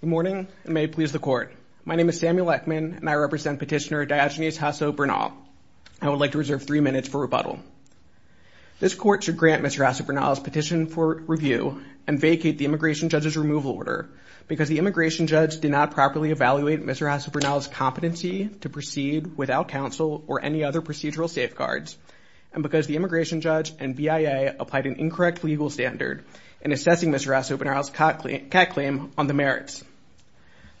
Good morning and may it please the court. My name is Samuel Ekman and I represent petitioner Diogenes Jasso Bernal. I would like to reserve three minutes for rebuttal. This court should grant Mr. Jasso Bernal's petition for review and vacate the immigration judge's removal order because the immigration judge did not properly evaluate Mr. Jasso Bernal's competency to proceed without counsel or any other procedural safeguards and because the immigration judge and BIA applied an incorrect legal standard in assessing Mr. Jasso Bernal's CAC claim on the merits.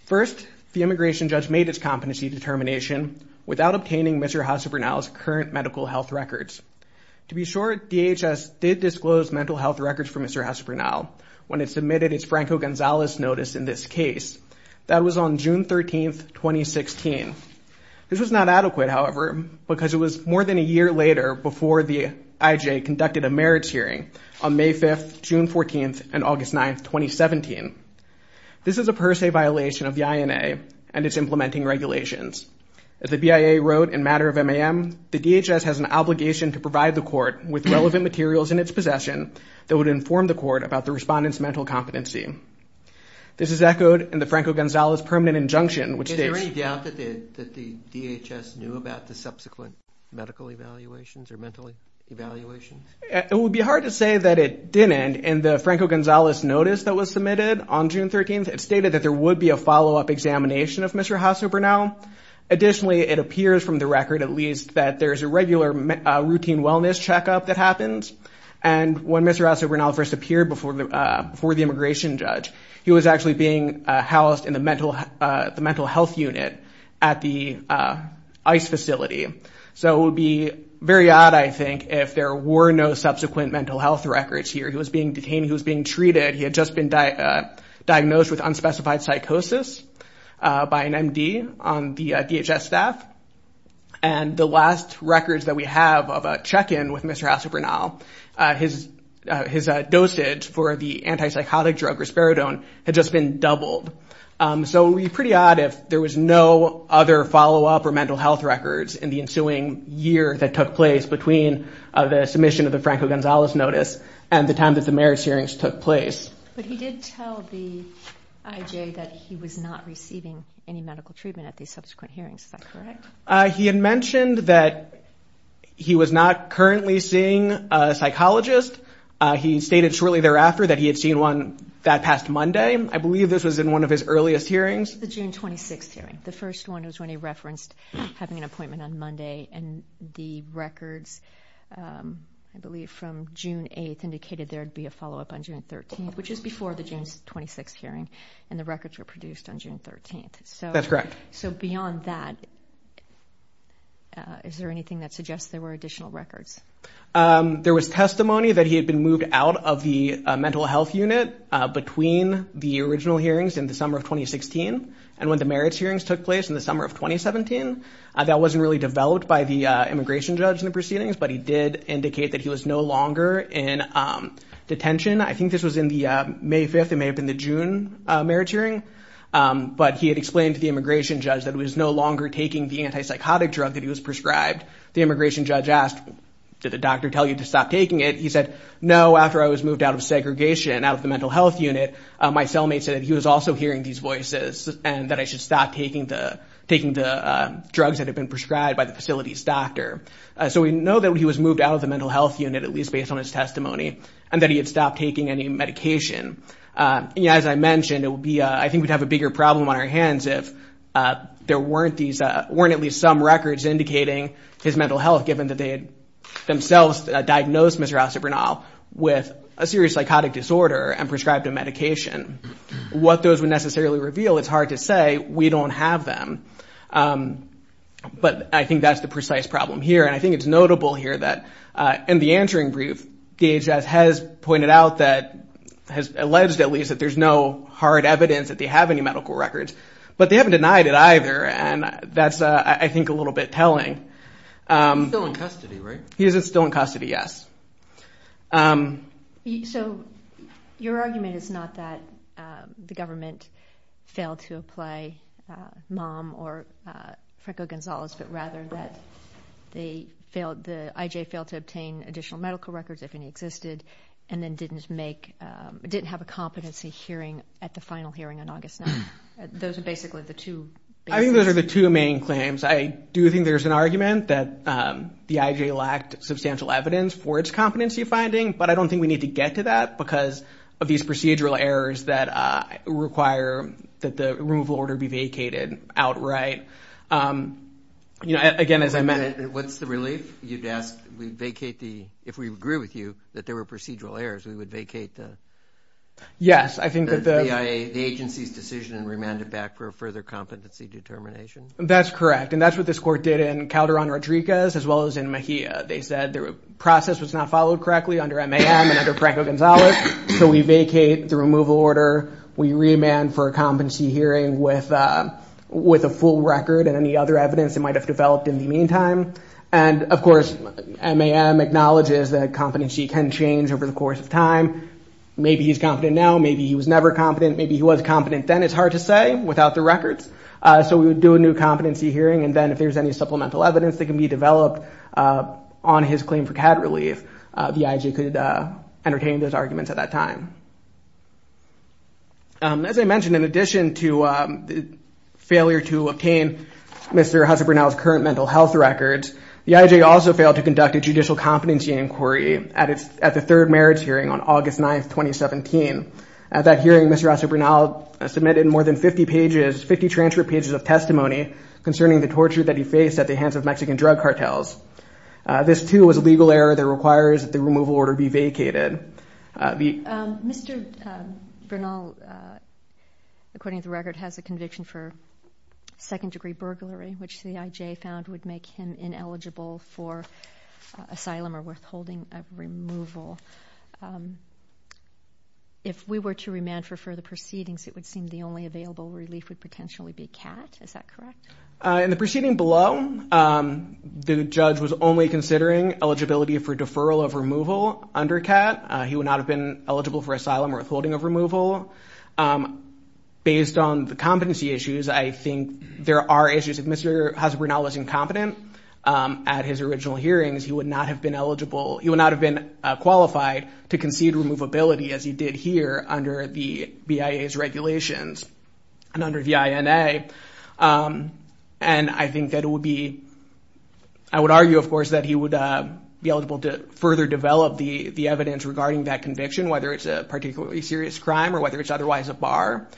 First, the immigration judge made its competency determination without obtaining Mr. Jasso Bernal's current medical health records. To be sure, DHS did disclose mental health records for Mr. Jasso Bernal when it submitted its Franco Gonzalez notice in this case. That was on June 13th, 2016. This was not adequate, however, because it was more than a year later before the IJ conducted a merits hearing on May 5th, June 14th, and August 9th, 2017. This is a per se violation of the INA and its implementing regulations. As the BIA wrote in Matter of MAM, the DHS has an obligation to provide the court with relevant materials in its possession that would inform the court about the respondent's mental competency. This is echoed in the Franco Gonzalez permanent injunction, which states... Is there any doubt that the DHS knew about the subsequent medical evaluations or mental evaluations? It would be hard to say that it didn't. In the Franco Gonzalez notice that was submitted on June 13th, it stated that there would be a follow-up examination of Mr. Jasso Bernal. Additionally, it appears from the record, at least, that there's a regular routine wellness checkup that happens. And when Mr. Jasso Bernal first appeared before the immigration judge, he was actually being housed in the mental health unit at the ICE facility. So it would be very odd, I think, if there were no subsequent mental health records here. He was being detained. He was being treated. He had just been diagnosed with unspecified psychosis by an MD on the DHS staff. And the last records that we have of a check-in with Mr. Jasso Bernal, his dosage for the antipsychotic drug risperidone had just been doubled. So it would be pretty odd if there was no other follow-up or mental health records in the ensuing year that took place between the submission of the Franco Gonzalez notice and the time that the marriage hearings took place. But he did tell the IJ that he was not receiving any medical treatment at the subsequent hearings. Is that correct? He had mentioned that he was not currently seeing a psychologist. He stated shortly thereafter that he had seen one that past Monday. I believe this was in one of his earliest hearings. The June 26th hearing. The first one was when he referenced having an appointment on Monday and the records, I believe from June 8th, indicated there'd be a follow-up on June 13th, which is before the June 26th hearing. And the records were produced on June 13th. That's correct. So beyond that, is there anything that suggests there were additional records? There was testimony that he had been moved out of the mental health unit between the original hearings in the summer of 2016 and when the marriage hearings took place in the summer of 2017. That wasn't really developed by the immigration judge in the proceedings, but he did indicate that he was no longer in detention. I think this was in the May 5th. It may have been the June marriage hearing, but he had explained to the immigration judge that he was no longer taking the antipsychotic drug that he was prescribed. The immigration judge asked, did the doctor tell you to stop taking it? He said, no, after I was moved out of segregation, out of the mental health unit, my cellmate said that he was also hearing these voices and that I should stop taking the drugs that had been prescribed by the facility's doctor. So we know that he was moved out of the mental health unit, at least As I mentioned, I think we'd have a bigger problem on our hands if there weren't at least some records indicating his mental health, given that they had themselves diagnosed Mr. Acebrunal with a serious psychotic disorder and prescribed a medication. What those would necessarily reveal, it's hard to say. We don't have them. But I think that's the precise problem here. And I think it's notable here that in the answering brief, DHS has pointed out that, has alleged at least, that there's no hard evidence that they have any medical records. But they haven't denied it either. And that's, I think, a little bit telling. He's still in custody, right? He is still in custody, yes. So your argument is not that the government failed to apply Mom or Franco Gonzalez, but rather that the IJ failed to obtain additional medical records, if any existed, and then didn't make, didn't have a competency hearing at the final hearing on August 9th. Those are basically the two. I think those are the two main claims. I do think there's an argument that the IJ lacked substantial evidence for its competency finding, but I don't think we need to get to that because of these procedural errors that require that the removal order be vacated outright. You know, again, as I mentioned. What's the relief? You'd ask, we vacate the, if we agree with you, that there were procedural errors, we would vacate the... Yes, I think that the... The agency's decision and remand it back for a further competency determination? That's correct. And that's what this court did in Calderon-Rodriguez, as well as in Mejia. They said the process was not followed correctly under MAM and under Franco Gonzalez. So we vacate the removal order. We remand for a competency hearing with a full record and any other evidence that might have developed in the meantime. And of course, MAM acknowledges that competency can change over the course of time. Maybe he's competent now, maybe he was never competent, maybe he was competent then, it's hard to say without the records. So we would do a new competency hearing and then if there's any supplemental evidence that can be developed on his claim for CAD relief, the IJ could entertain those arguments at that time. As I mentioned, in addition to failure to obtain Mr. Husser Brunel's current mental health records, the IJ also failed to conduct a judicial competency inquiry at the third marriage hearing on August 9th, 2017. At that hearing, Mr. Husser Brunel submitted more than 50 pages, 50 transfer pages of testimony concerning the torture that he faced at the hands of Mexican drug cartels. This too was a legal error that requires that the removal order be vacated. Mr. Brunel, according to the record, has a conviction for second degree burglary, which the IJ found would make him ineligible for asylum or withholding of removal. If we were to remand for further proceedings, it would seem the only available relief would potentially be CAT, is that correct? In the proceeding below, the judge was only considering eligibility for deferral of removal under CAT. He would not have been eligible for asylum or withholding of removal. Based on the competency issues, I think there are issues. If Mr. Husser Brunel was incompetent at his original hearings, he would not have been qualified to concede removability as he did here under the BIA's regulations and under the INA. I would argue, of course, that he would be eligible to further develop the evidence regarding that conviction, whether it's a particularly serious crime or whether it's otherwise a bar,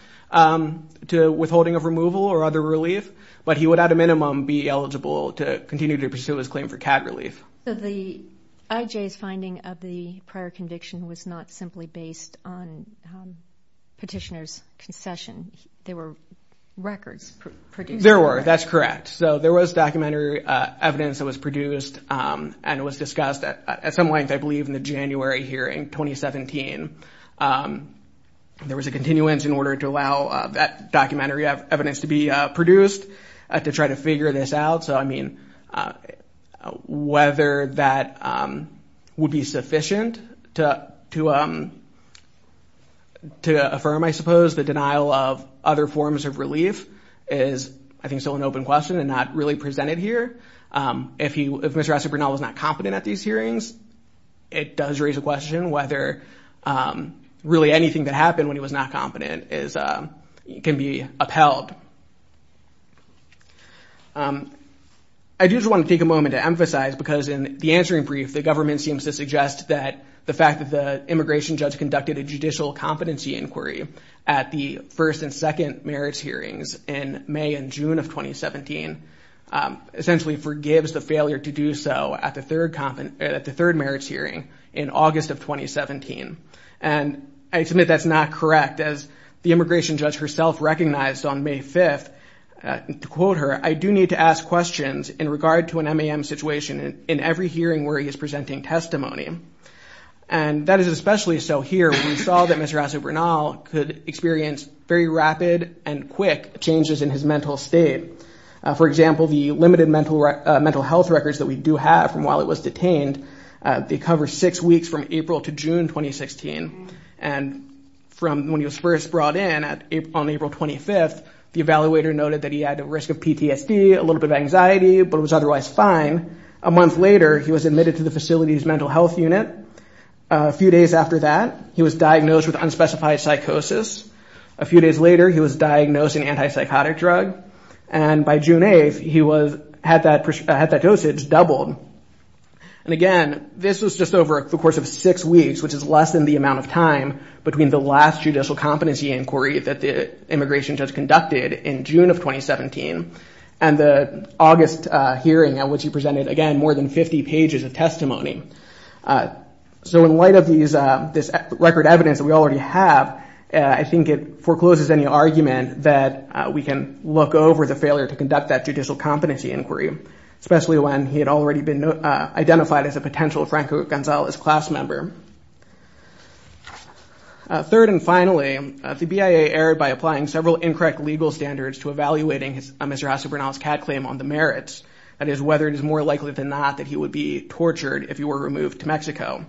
to withholding of removal or other relief. But he would, at a minimum, be eligible to continue to pursue his claim for CAT relief. So the IJ's finding of the prior conviction was not simply based on petitioner's concession. There were records produced. There were, that's correct. So there was documentary evidence that was produced and was discussed at some length, I believe, in the January hearing, 2017. There was a continuance in order to allow that documentary evidence to be produced to try to figure this out. So I mean, whether that would be sufficient to affirm, I suppose, the denial of other forms of relief is, I think, still an open question and not really presented here. If Mr. Husser was not competent at the first two hearings, it does raise a question whether really anything that happened when he was not competent can be upheld. I do just want to take a moment to emphasize, because in the answering brief, the government seems to suggest that the fact that the immigration judge conducted a judicial competency inquiry at the first and second merits hearings in May and June of 2017 essentially forgives the failure to do so at the third merits hearing in August of 2017. And I submit that's not correct. As the immigration judge herself recognized on May 5th, to quote her, I do need to ask questions in regard to an MAM situation in every hearing where he is presenting testimony. And that is especially so here when we saw that Mr. Aso-Bernal could experience very rapid and quick changes in his mental state. For example, the limited mental health records that we do have from while he was detained, they cover six weeks from April to June 2016. And from when he was first brought in on April 25th, the evaluator noted that he had a risk of PTSD, a little bit of anxiety, but was otherwise fine. A month later, he was admitted to the facility's mental health unit. A few days after that, he was diagnosed with unspecified psychosis. A few days later, he was diagnosed with an anti-psychotic drug. And by June 8th, he had that dosage doubled. And again, this was just over the course of six weeks, which is less than the amount of time between the last judicial competency inquiry that the immigration judge conducted in June of 2017 and the August hearing at which he presented, again, more than 50 pages of testimony. So in light of this record evidence that we already have, I think it forecloses any argument that we can look over the failure to conduct that judicial competency inquiry, especially when he had already been identified as a potential Franco Gonzales class member. Third and finally, the BIA erred by applying several incorrect legal standards to evaluating Mr. Acebernal's CAD claim on the merits, that is, whether it is more likely than not that he would be tortured if he were removed to Mexico.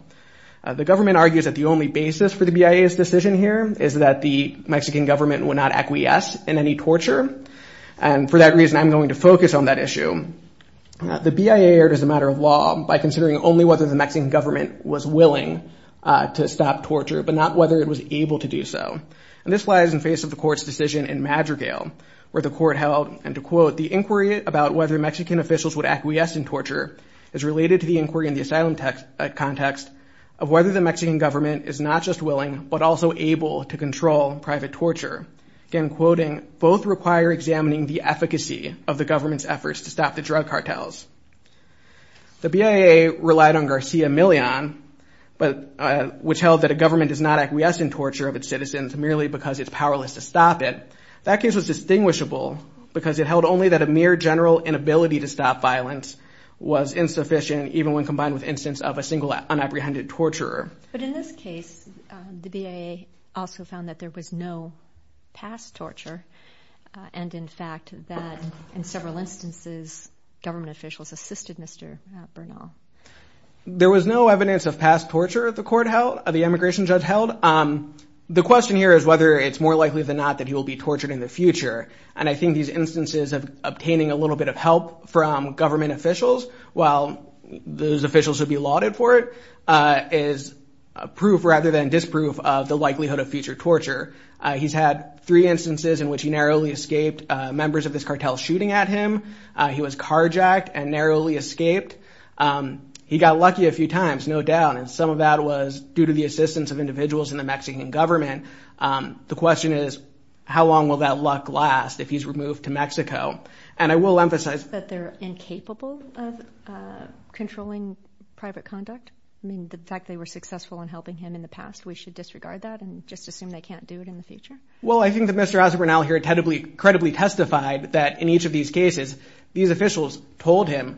The government argues that the only basis for the BIA's decision here is that the Mexican government would not acquiesce in any torture. And for that reason, I'm going to focus on that issue. The BIA erred as a matter of law by considering only whether the Mexican government was willing to stop torture, but not whether it was able to do so. And this lies in face of the court's decision in Madrigal, where the court held, and to quote, the inquiry about whether Mexican officials would acquiesce in torture is related to the inquiry in the asylum context of whether the Mexican government is not just willing, but also able to control private torture. Again, quoting, both require examining the efficacy of the government's efforts to stop the drug cartels. The BIA relied on Garcia Millon, which held that a government does not acquiesce in torture of its citizens merely because it's powerless to stop it. That case was distinguishable because it held only that a mere general inability to stop violence was insufficient, even when But in this case, the BIA also found that there was no past torture. And in fact, that in several instances, government officials assisted Mr. Bernal. There was no evidence of past torture the court held, the immigration judge held. The question here is whether it's more likely than not that he will be tortured in the future. And I think these instances of obtaining a little bit of help from government officials while those officials would be lauded for it, is proof rather than disproof of the likelihood of future torture. He's had three instances in which he narrowly escaped members of this cartel shooting at him. He was carjacked and narrowly escaped. He got lucky a few times, no doubt. And some of that was due to the assistance of individuals in the Mexican government. The question is, how long will that luck last if he's removed to Mexico? And I will emphasize that they're incapable of controlling private conduct. I mean, the fact they were successful in helping him in the past, we should disregard that and just assume they can't do it in the future. Well, I think that Mr. Bernal here credibly testified that in each of these cases, these officials told him,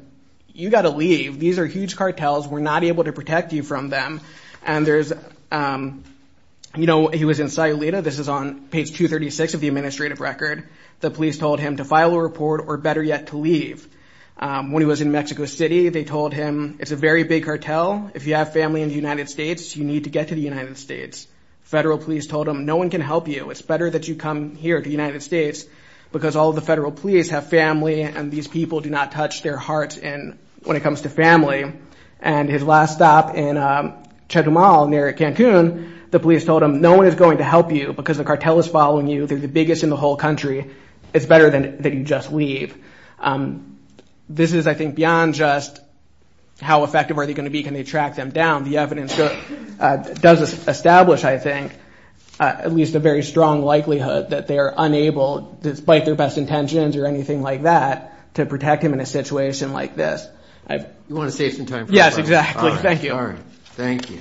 you got to leave. These are huge cartels. We're not able to protect you from them. And there's, you know, he was in Sayulita. This is on page 236 of the administrative record. The police told him to file a report or better yet, to leave. When he was in Mexico City, they told him, it's a very big cartel. If you have family in the United States, you need to get to the United States. Federal police told him, no one can help you. It's better that you come here to the United States because all the federal police have family and these people do not touch their hearts when it comes to family. And his last stop in Chetumal near Cancun, the police told him, no one is going to help you because the cartel is following you. They're the biggest in the whole country. It's better that you just leave. This is, I think, beyond just how effective are they going to be? Can they track them down? The evidence does establish, I think, at least a very strong likelihood that they are unable, despite their best intentions or anything like that, to protect him in a situation like this. You want to save some time for the final question. Yes, exactly. Thank you. All right. Thank you.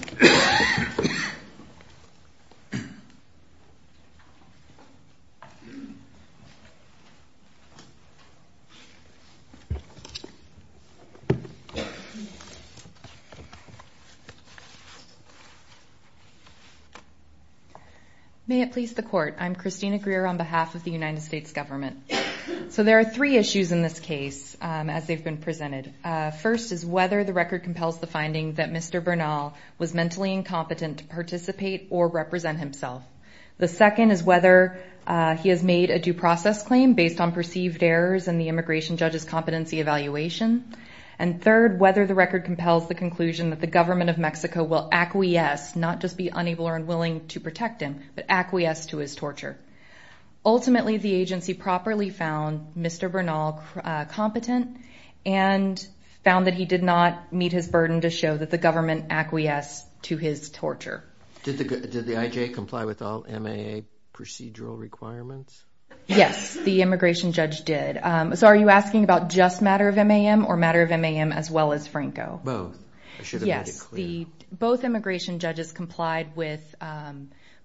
May it please the Court. I'm Christina Greer on behalf of the United States government. So there are three issues in this case as they've been presented. First is whether the record compels the finding that Mr. Bernal was mentally incompetent to participate or represent himself. The second is whether he has made a due process claim based on perceived errors in the immigration judge's competency evaluation. And third, whether the record compels the conclusion that the government of Mexico will acquiesce, not just be unable or unwilling to protect him, but acquiesce to his torture. Ultimately, the agency properly found Mr. Bernal competent and found that he did not meet his burden to show that the government acquiesced to his torture. Did the IJ comply with all MAA procedural requirements? Yes, the immigration judge did. So are you asking about just matter of MAM or matter of MAM as well as Franco? Both. I should have made it clear. Both immigration judges complied with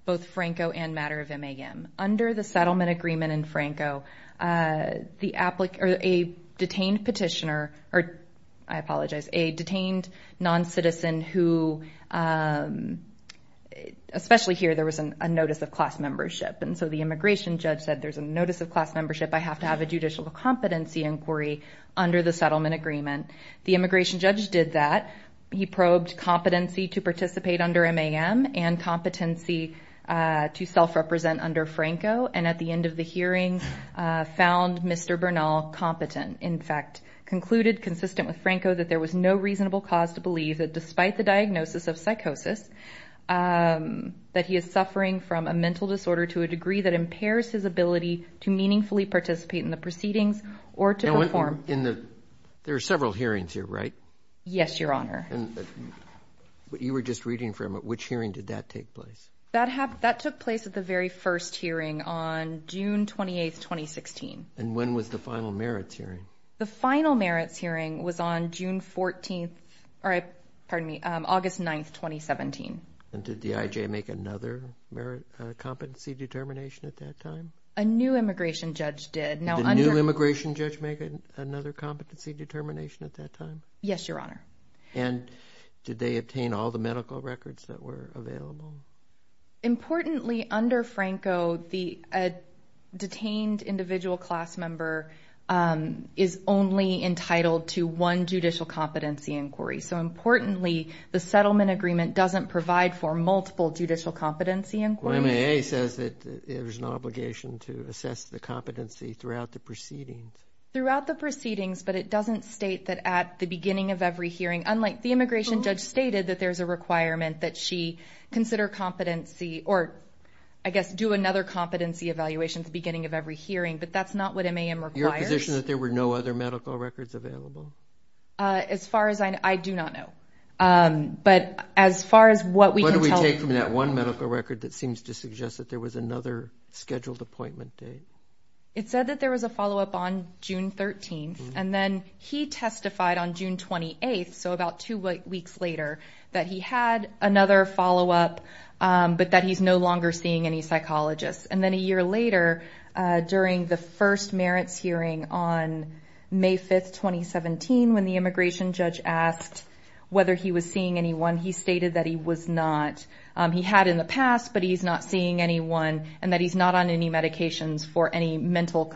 both Franco and matter of MAM. Under the settlement agreement in Franco, a detained petitioner, or I apologize, a detained non-citizen who, especially here, there was a notice of class membership. And so the immigration judge said there's a notice of class membership. I have to have a judicial competency inquiry under the settlement agreement. The immigration judge did that. He probed competency to participate under MAM and competency to self-represent under Franco. And at the end of the hearing, found Mr. Bernal competent. In fact, concluded consistent with Franco that there was no reasonable cause to believe that despite the diagnosis of psychosis, that he is suffering from a mental disorder to a degree that impairs his ability to meaningfully participate in the proceedings or to perform. There are several hearings here, right? Yes, Your Honor. You were just reading from it. Which hearing did that take place? That took place at the very first hearing on June 28, 2016. And when was the final merits hearing? The final merits hearing was on August 9, 2017. And did the IJ make another competency determination at that time? A new immigration judge did. Did a new immigration judge make another competency determination at that time? Yes, Your Honor. And did they obtain all the medical records that were available? Importantly, under Franco, the detained individual class member is only entitled to one judicial competency inquiry. So importantly, the settlement agreement doesn't provide for multiple judicial competency inquiries. Well, MAA says that there's an obligation to assess the competency throughout the proceedings. Throughout the proceedings, but it doesn't state that at the beginning of every hearing, unlike the immigration judge stated that there's a requirement that she consider competency or, I guess, do another competency evaluation at the beginning of every hearing, but that's not what MAM requires. Is it your position that there were no other medical records available? As far as I know, I do not know. But as far as what we can tell. Take from that one medical record that seems to suggest that there was another scheduled appointment date. It said that there was a follow-up on June 13th, and then he testified on June 28th, so about two weeks later, that he had another follow-up, but that he's no longer seeing any psychologists. And then a year later, during the first merits hearing on May 5th, 2017, when the immigration judge asked whether he was seeing anyone, he stated that he was not. He had in the past, but he's not seeing anyone, and that he's not on any medications for any mental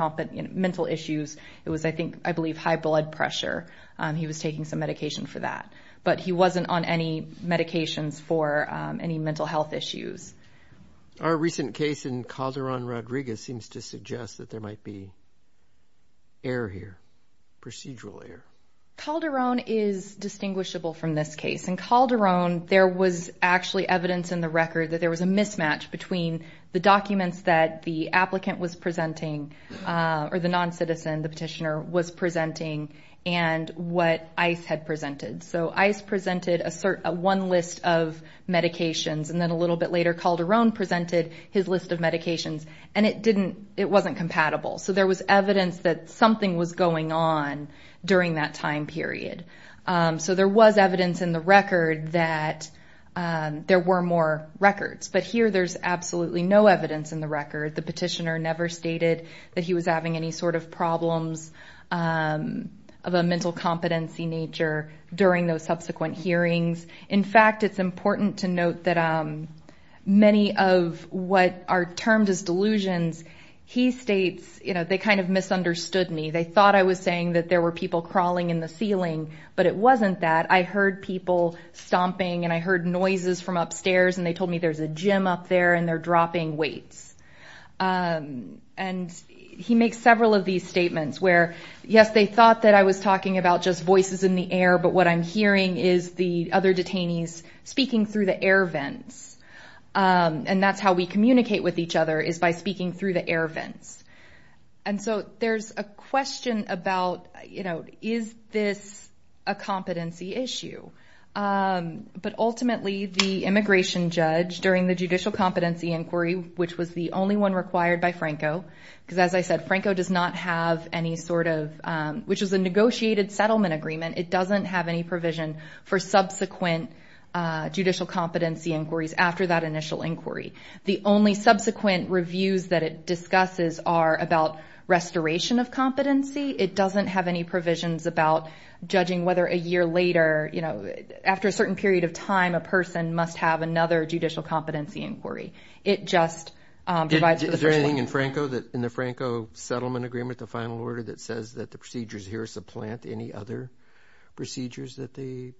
issues. It was, I believe, high blood pressure. He was taking some medication for that. But he wasn't on any medications for any mental health issues. Our recent case in Calderon Rodriguez seems to suggest that there might be error here, procedural error. Calderon is distinguishable from this case. In Calderon, there was actually evidence in the record that there was a mismatch between the documents that the applicant was presenting, or the non-citizen, the petitioner, was presenting, and what ICE had presented. So ICE presented one list of medications, and then a little bit later Calderon presented his list of medications, and it wasn't compatible. So there was evidence that something was going on during that time period. So there was evidence in the record that there were more records. But here there's absolutely no evidence in the record. The petitioner never stated that he was having any sort of problems of a mental competency nature during those subsequent hearings. In fact, it's important to note that many of what are termed as delusions, he states, you know, they kind of misunderstood me. They thought I was saying that there were people crawling in the ceiling, but it wasn't that. I heard people stomping and I heard noises from upstairs, and they told me there's a gym up there and they're dropping weights. And he makes several of these statements where, yes, they thought that I was talking about just voices in the air, but what I'm hearing is the other detainees speaking through the air vents, and that's how we communicate with each other is by speaking through the air vents. And so there's a question about, you know, is this a competency issue? But ultimately the immigration judge during the judicial competency inquiry, which was the only one required by Franco, because as I said, Franco does not have any sort of, which is a negotiated settlement agreement. It doesn't have any provision for subsequent judicial competency inquiries after that initial inquiry. The only subsequent reviews that it discusses are about restoration of competency. It doesn't have any provisions about judging whether a year later, you know, after a certain period of time a person must have another judicial competency inquiry. It just provides for the first one. Is there anything in Franco that, in the Franco settlement agreement, the final order that says that the procedures here supplant any other procedures that the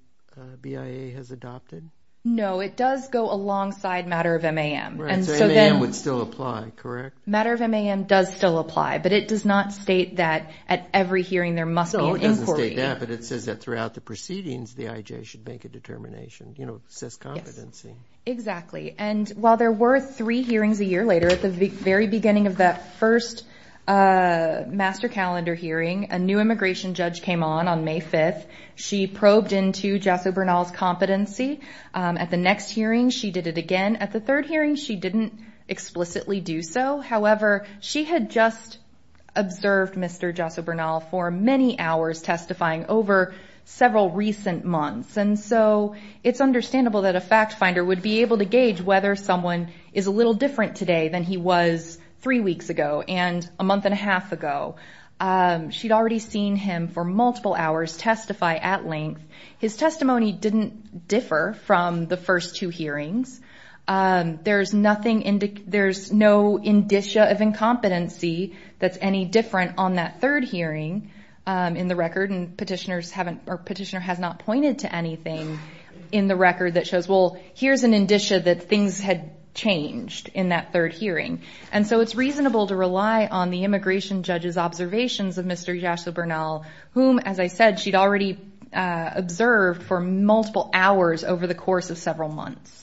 BIA has adopted? No, it does go alongside matter of MAM. Right, so MAM would still apply, correct? Matter of MAM does still apply, but it does not state that at every hearing there must be an inquiry. No, it doesn't state that, but it says that throughout the proceedings the IJ should make a determination. You know, it says competency. Exactly, and while there were three hearings a year later, at the very beginning of that first master calendar hearing, a new immigration judge came on on May 5th. She probed into Jasso Bernal's competency. At the next hearing she did it again. At the third hearing she didn't explicitly do so. However, she had just observed Mr. Jasso Bernal for many hours testifying over several recent months, and so it's understandable that a fact finder would be able to gauge whether someone is a little different today than he was three weeks ago and a month and a half ago. She'd already seen him for multiple hours testify at length. His testimony didn't differ from the first two hearings. There's no indicia of incompetency that's any different on that third hearing in the record, and Petitioner has not pointed to anything in the record that shows, well, here's an indicia that things had changed in that third hearing, and so it's reasonable to rely on the immigration judge's observations of Mr. Jasso Bernal, whom, as I said, she'd already observed for multiple hours over the course of several months.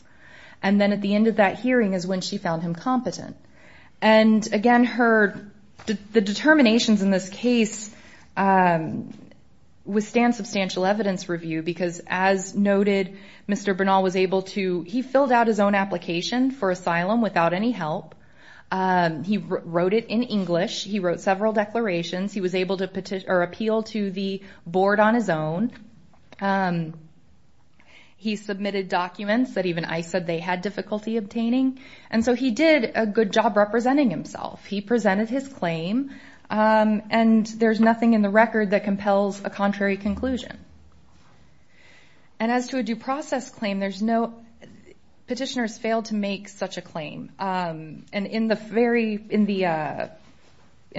And then at the end of that hearing is when she found him competent. And again, the determinations in this case withstand substantial evidence review because, as noted, Mr. Bernal was able to fill out his own application for asylum without any help. He wrote it in English. He wrote several declarations. He was able to appeal to the board on his own. He submitted documents that even I said they had difficulty obtaining, and so he did a good job representing himself. He presented his claim, and there's nothing in the record that compels a contrary conclusion. And as to a due process claim, Petitioner has failed to make such a claim. And in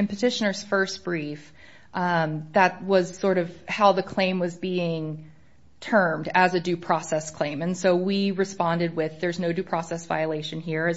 Petitioner's first brief, that was sort of how the claim was being termed as a due process claim, and so we responded with, there's no due process violation here,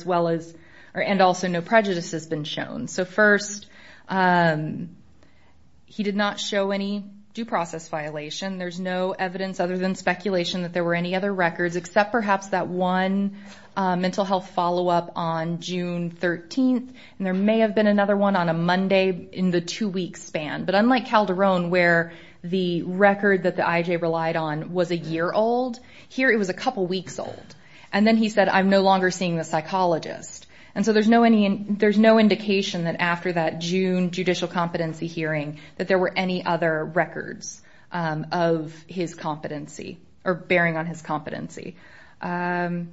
and also no prejudice has been shown. So first, he did not show any due process violation. There's no evidence other than speculation that there were any other records, except perhaps that one mental health follow-up on June 13th, and there may have been another one on a Monday in the two-week span. But unlike Calderon, where the record that the IJ relied on was a year old, here it was a couple weeks old. And then he said, I'm no longer seeing the psychologist. And so there's no indication that after that June judicial competency hearing that there were any other records of his competency or bearing on his competency. And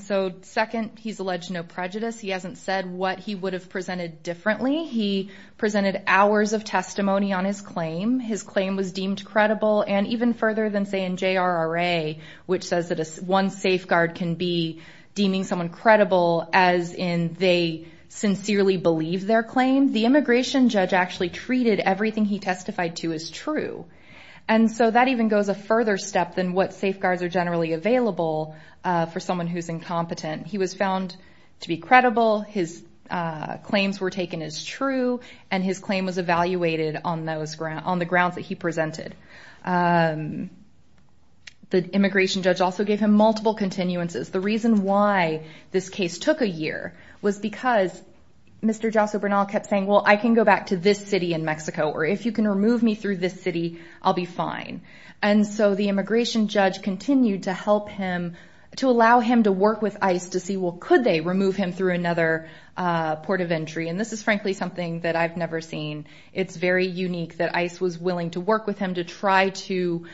so second, he's alleged no prejudice. He hasn't said what he would have presented differently. He presented hours of testimony on his claim. His claim was deemed credible. And even further than, say, in JRRA, which says that one safeguard can be deeming someone credible as in they sincerely believe their claim, the immigration judge actually treated everything he testified to as true. And so that even goes a further step than what safeguards are generally available for someone who's incompetent. He was found to be credible. His claims were taken as true. And his claim was evaluated on the grounds that he presented. The immigration judge also gave him multiple continuances. The reason why this case took a year was because Mr. Jasso Bernal kept saying, well, I can go back to this city in Mexico, or if you can remove me through this city, I'll be fine. And so the immigration judge continued to help him, to allow him to work with ICE to see, well, could they remove him through another port of entry. And this is frankly something that I've never seen. It's very unique that ICE was willing to work with him to try to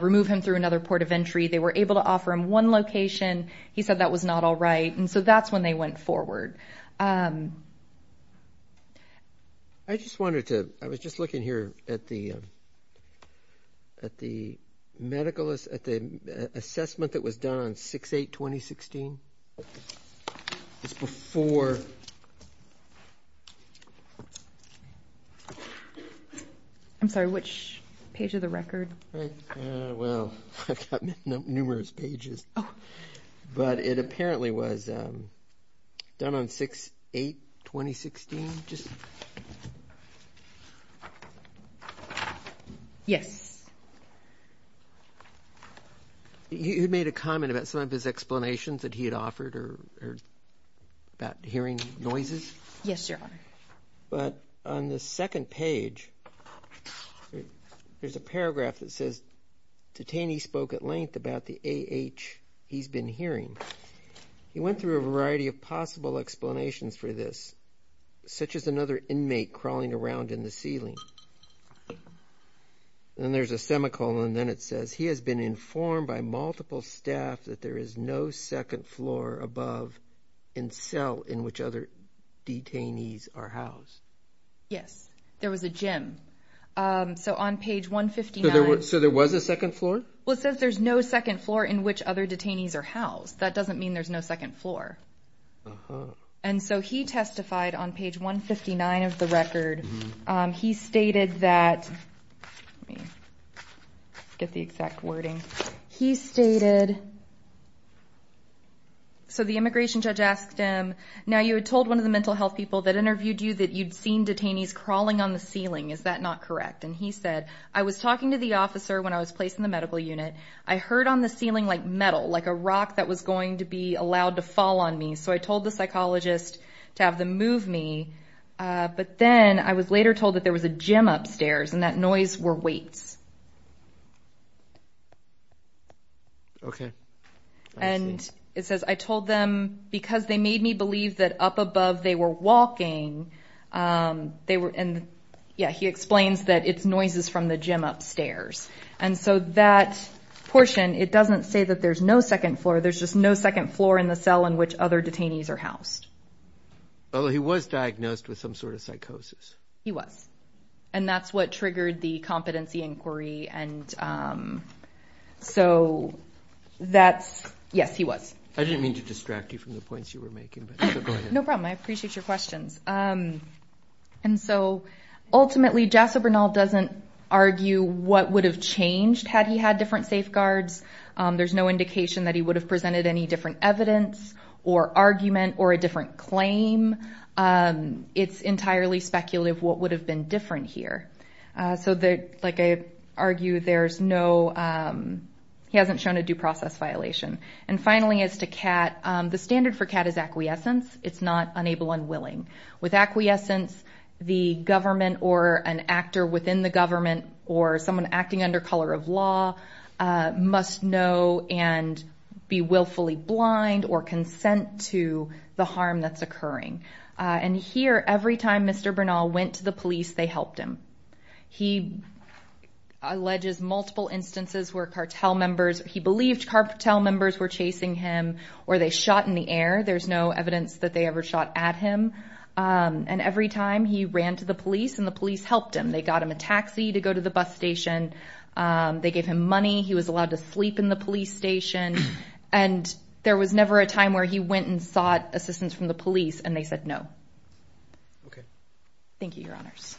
remove him through another port of entry. They were able to offer him one location. He said that was not all right. And so that's when they went forward. I just wanted to – I was just looking here at the medical – at the assessment that was done on 6-8-2016. It's before – I'm sorry, which page of the record? Well, I've got numerous pages. Oh. But it apparently was done on 6-8-2016. Yes. You made a comment about some of his explanations that he had offered or about hearing noises? Yes, Your Honor. But on the second page, there's a paragraph that says, Titani spoke at length about the A.H. he's been hearing. He went through a variety of possible explanations for this, such as another inmate crawling around in the ceiling. And there's a semicolon, and then it says, He has been informed by multiple staff that there is no second floor above and cell in which other detainees are housed. Yes. There was a gym. So on page 159 – So there was a second floor? Well, it says there's no second floor in which other detainees are housed. That doesn't mean there's no second floor. Uh-huh. And so he testified on page 159 of the record. He stated that – let me get the exact wording. He stated – so the immigration judge asked him, Now you had told one of the mental health people that interviewed you that you'd seen detainees crawling on the ceiling. Is that not correct? And he said, I was talking to the officer when I was placed in the medical unit. I heard on the ceiling, like, metal, like a rock that was going to be allowed to fall on me. So I told the psychologist to have them move me. But then I was later told that there was a gym upstairs and that noise were weights. Okay. And it says, I told them because they made me believe that up above they were walking, they were – and, yeah, he explains that it's noises from the gym upstairs. And so that portion, it doesn't say that there's no second floor. There's just no second floor in the cell in which other detainees are housed. Oh, he was diagnosed with some sort of psychosis. He was. And that's what triggered the competency inquiry. And so that's – yes, he was. I didn't mean to distract you from the points you were making, but go ahead. No problem. I appreciate your questions. And so, ultimately, Jasso Bernal doesn't argue what would have changed had he had different safeguards. There's no indication that he would have presented any different evidence or argument or a different claim. It's entirely speculative what would have been different here. So, like I argue, there's no – he hasn't shown a due process violation. And finally, as to CAT, the standard for CAT is acquiescence. It's not unable and willing. With acquiescence, the government or an actor within the government or someone acting under color of law must know and be willfully blind or consent to the harm that's occurring. And here, every time Mr. Bernal went to the police, they helped him. He alleges multiple instances where cartel members – he believed cartel members were chasing him or they shot in the air. There's no evidence that they ever shot at him. And every time he ran to the police and the police helped him. They got him a taxi to go to the bus station. They gave him money. He was allowed to sleep in the police station. And there was never a time where he went and sought assistance from the police, and they said no. Okay. Thank you, Your Honors.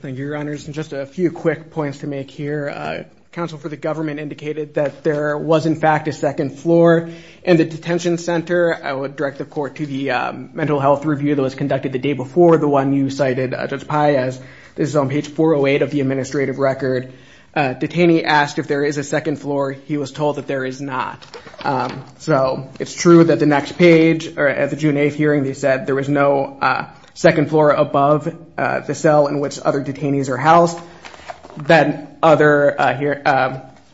Thank you, Your Honors. And just a few quick points to make here. Counsel for the government indicated that there was, in fact, a second floor in the detention center. I would direct the court to the mental health review that was conducted the day before the one you cited, Judge Pai, as this is on page 408 of the administrative record. Detainee asked if there is a second floor. He was told that there is not. So it's true that the next page, or at the June 8th hearing, they said there was no second floor above the cell in which other detainees are housed. That other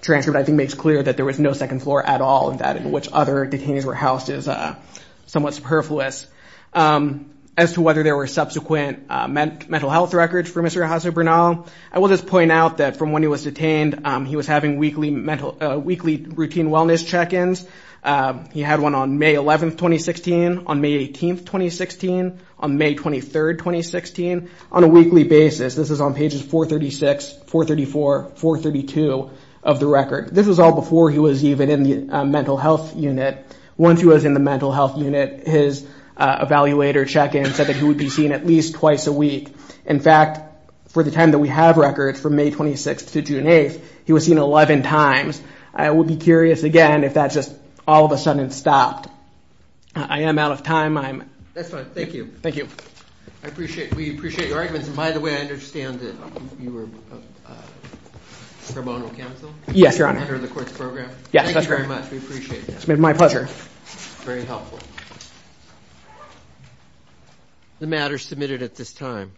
transcript, I think, makes clear that there was no second floor at all, and that in which other detainees were housed is somewhat superfluous. As to whether there were subsequent mental health records for Mr. Jose Bernal, I will just point out that from when he was detained, he was having weekly routine wellness check-ins. He had one on May 11th, 2016, on May 18th, 2016, on May 23rd, 2016, on a weekly basis. This is on pages 436, 434, 432 of the record. This was all before he was even in the mental health unit. Once he was in the mental health unit, his evaluator check-in said that he would be seen at least twice a week. In fact, for the time that we have records from May 26th to June 8th, he was seen 11 times. I would be curious, again, if that just all of a sudden stopped. I am out of time. That's fine. Thank you. Thank you. We appreciate your arguments. By the way, I understand that you were pro bono counsel? Yes, Your Honor. Under the courts program? Yes, that's right. Thank you very much. We appreciate that. It's been my pleasure. Very helpful. The matter is submitted at this time.